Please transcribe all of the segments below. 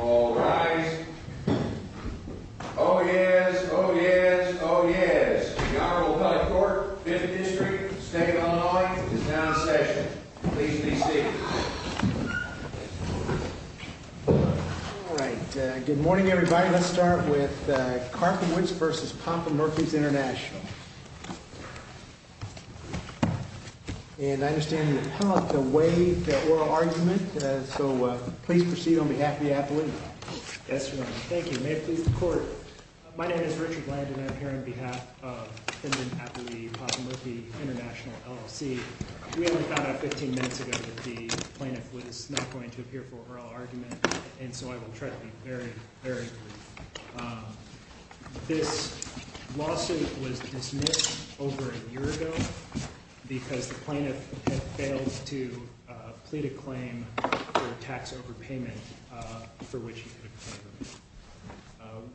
All rise. Oh yes, oh yes, oh yes. The Honorable Collette Court, 5th District, State of Illinois, is now in session. Please be seated. All right, good morning everybody. Let's start with Karpowicz v. Papa Murphy's International. And I understand you have a way to oral argument. So please proceed on behalf of the appellee. Yes, Your Honor. Thank you. May it please the Court. My name is Richard Landon. I'm here on behalf of defendant appellee, Papa Murphy, International LLC. We only found out 15 minutes ago that the plaintiff was not going to appear for oral argument. And so I will try to be very, very brief. This lawsuit was dismissed over a year ago because the plaintiff had failed to plead a claim for tax overpayment for which he could have claimed.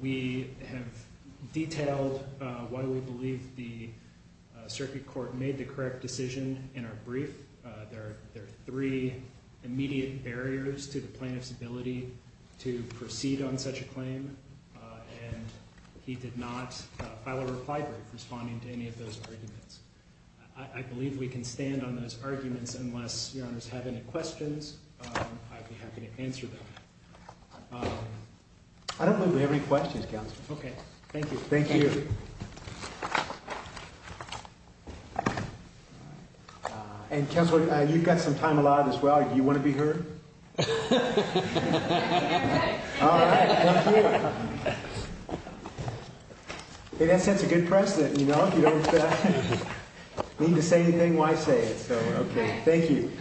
We have detailed why we believe the circuit court made the correct decision in our brief. There are three immediate barriers to the plaintiff's ability to proceed on such a claim. And he did not file a reply brief responding to any of those arguments. I believe we can stand on those arguments unless Your Honors have any questions. I'd be happy to answer them. I don't believe we have any questions, Counselor. Okay, thank you. Thank you. Thank you. And, Counselor, you've got some time allotted as well. Do you want to be heard? All right. Thank you. In essence, a good precedent, you know. If you don't need to say anything, why say it? So, okay. Thank you.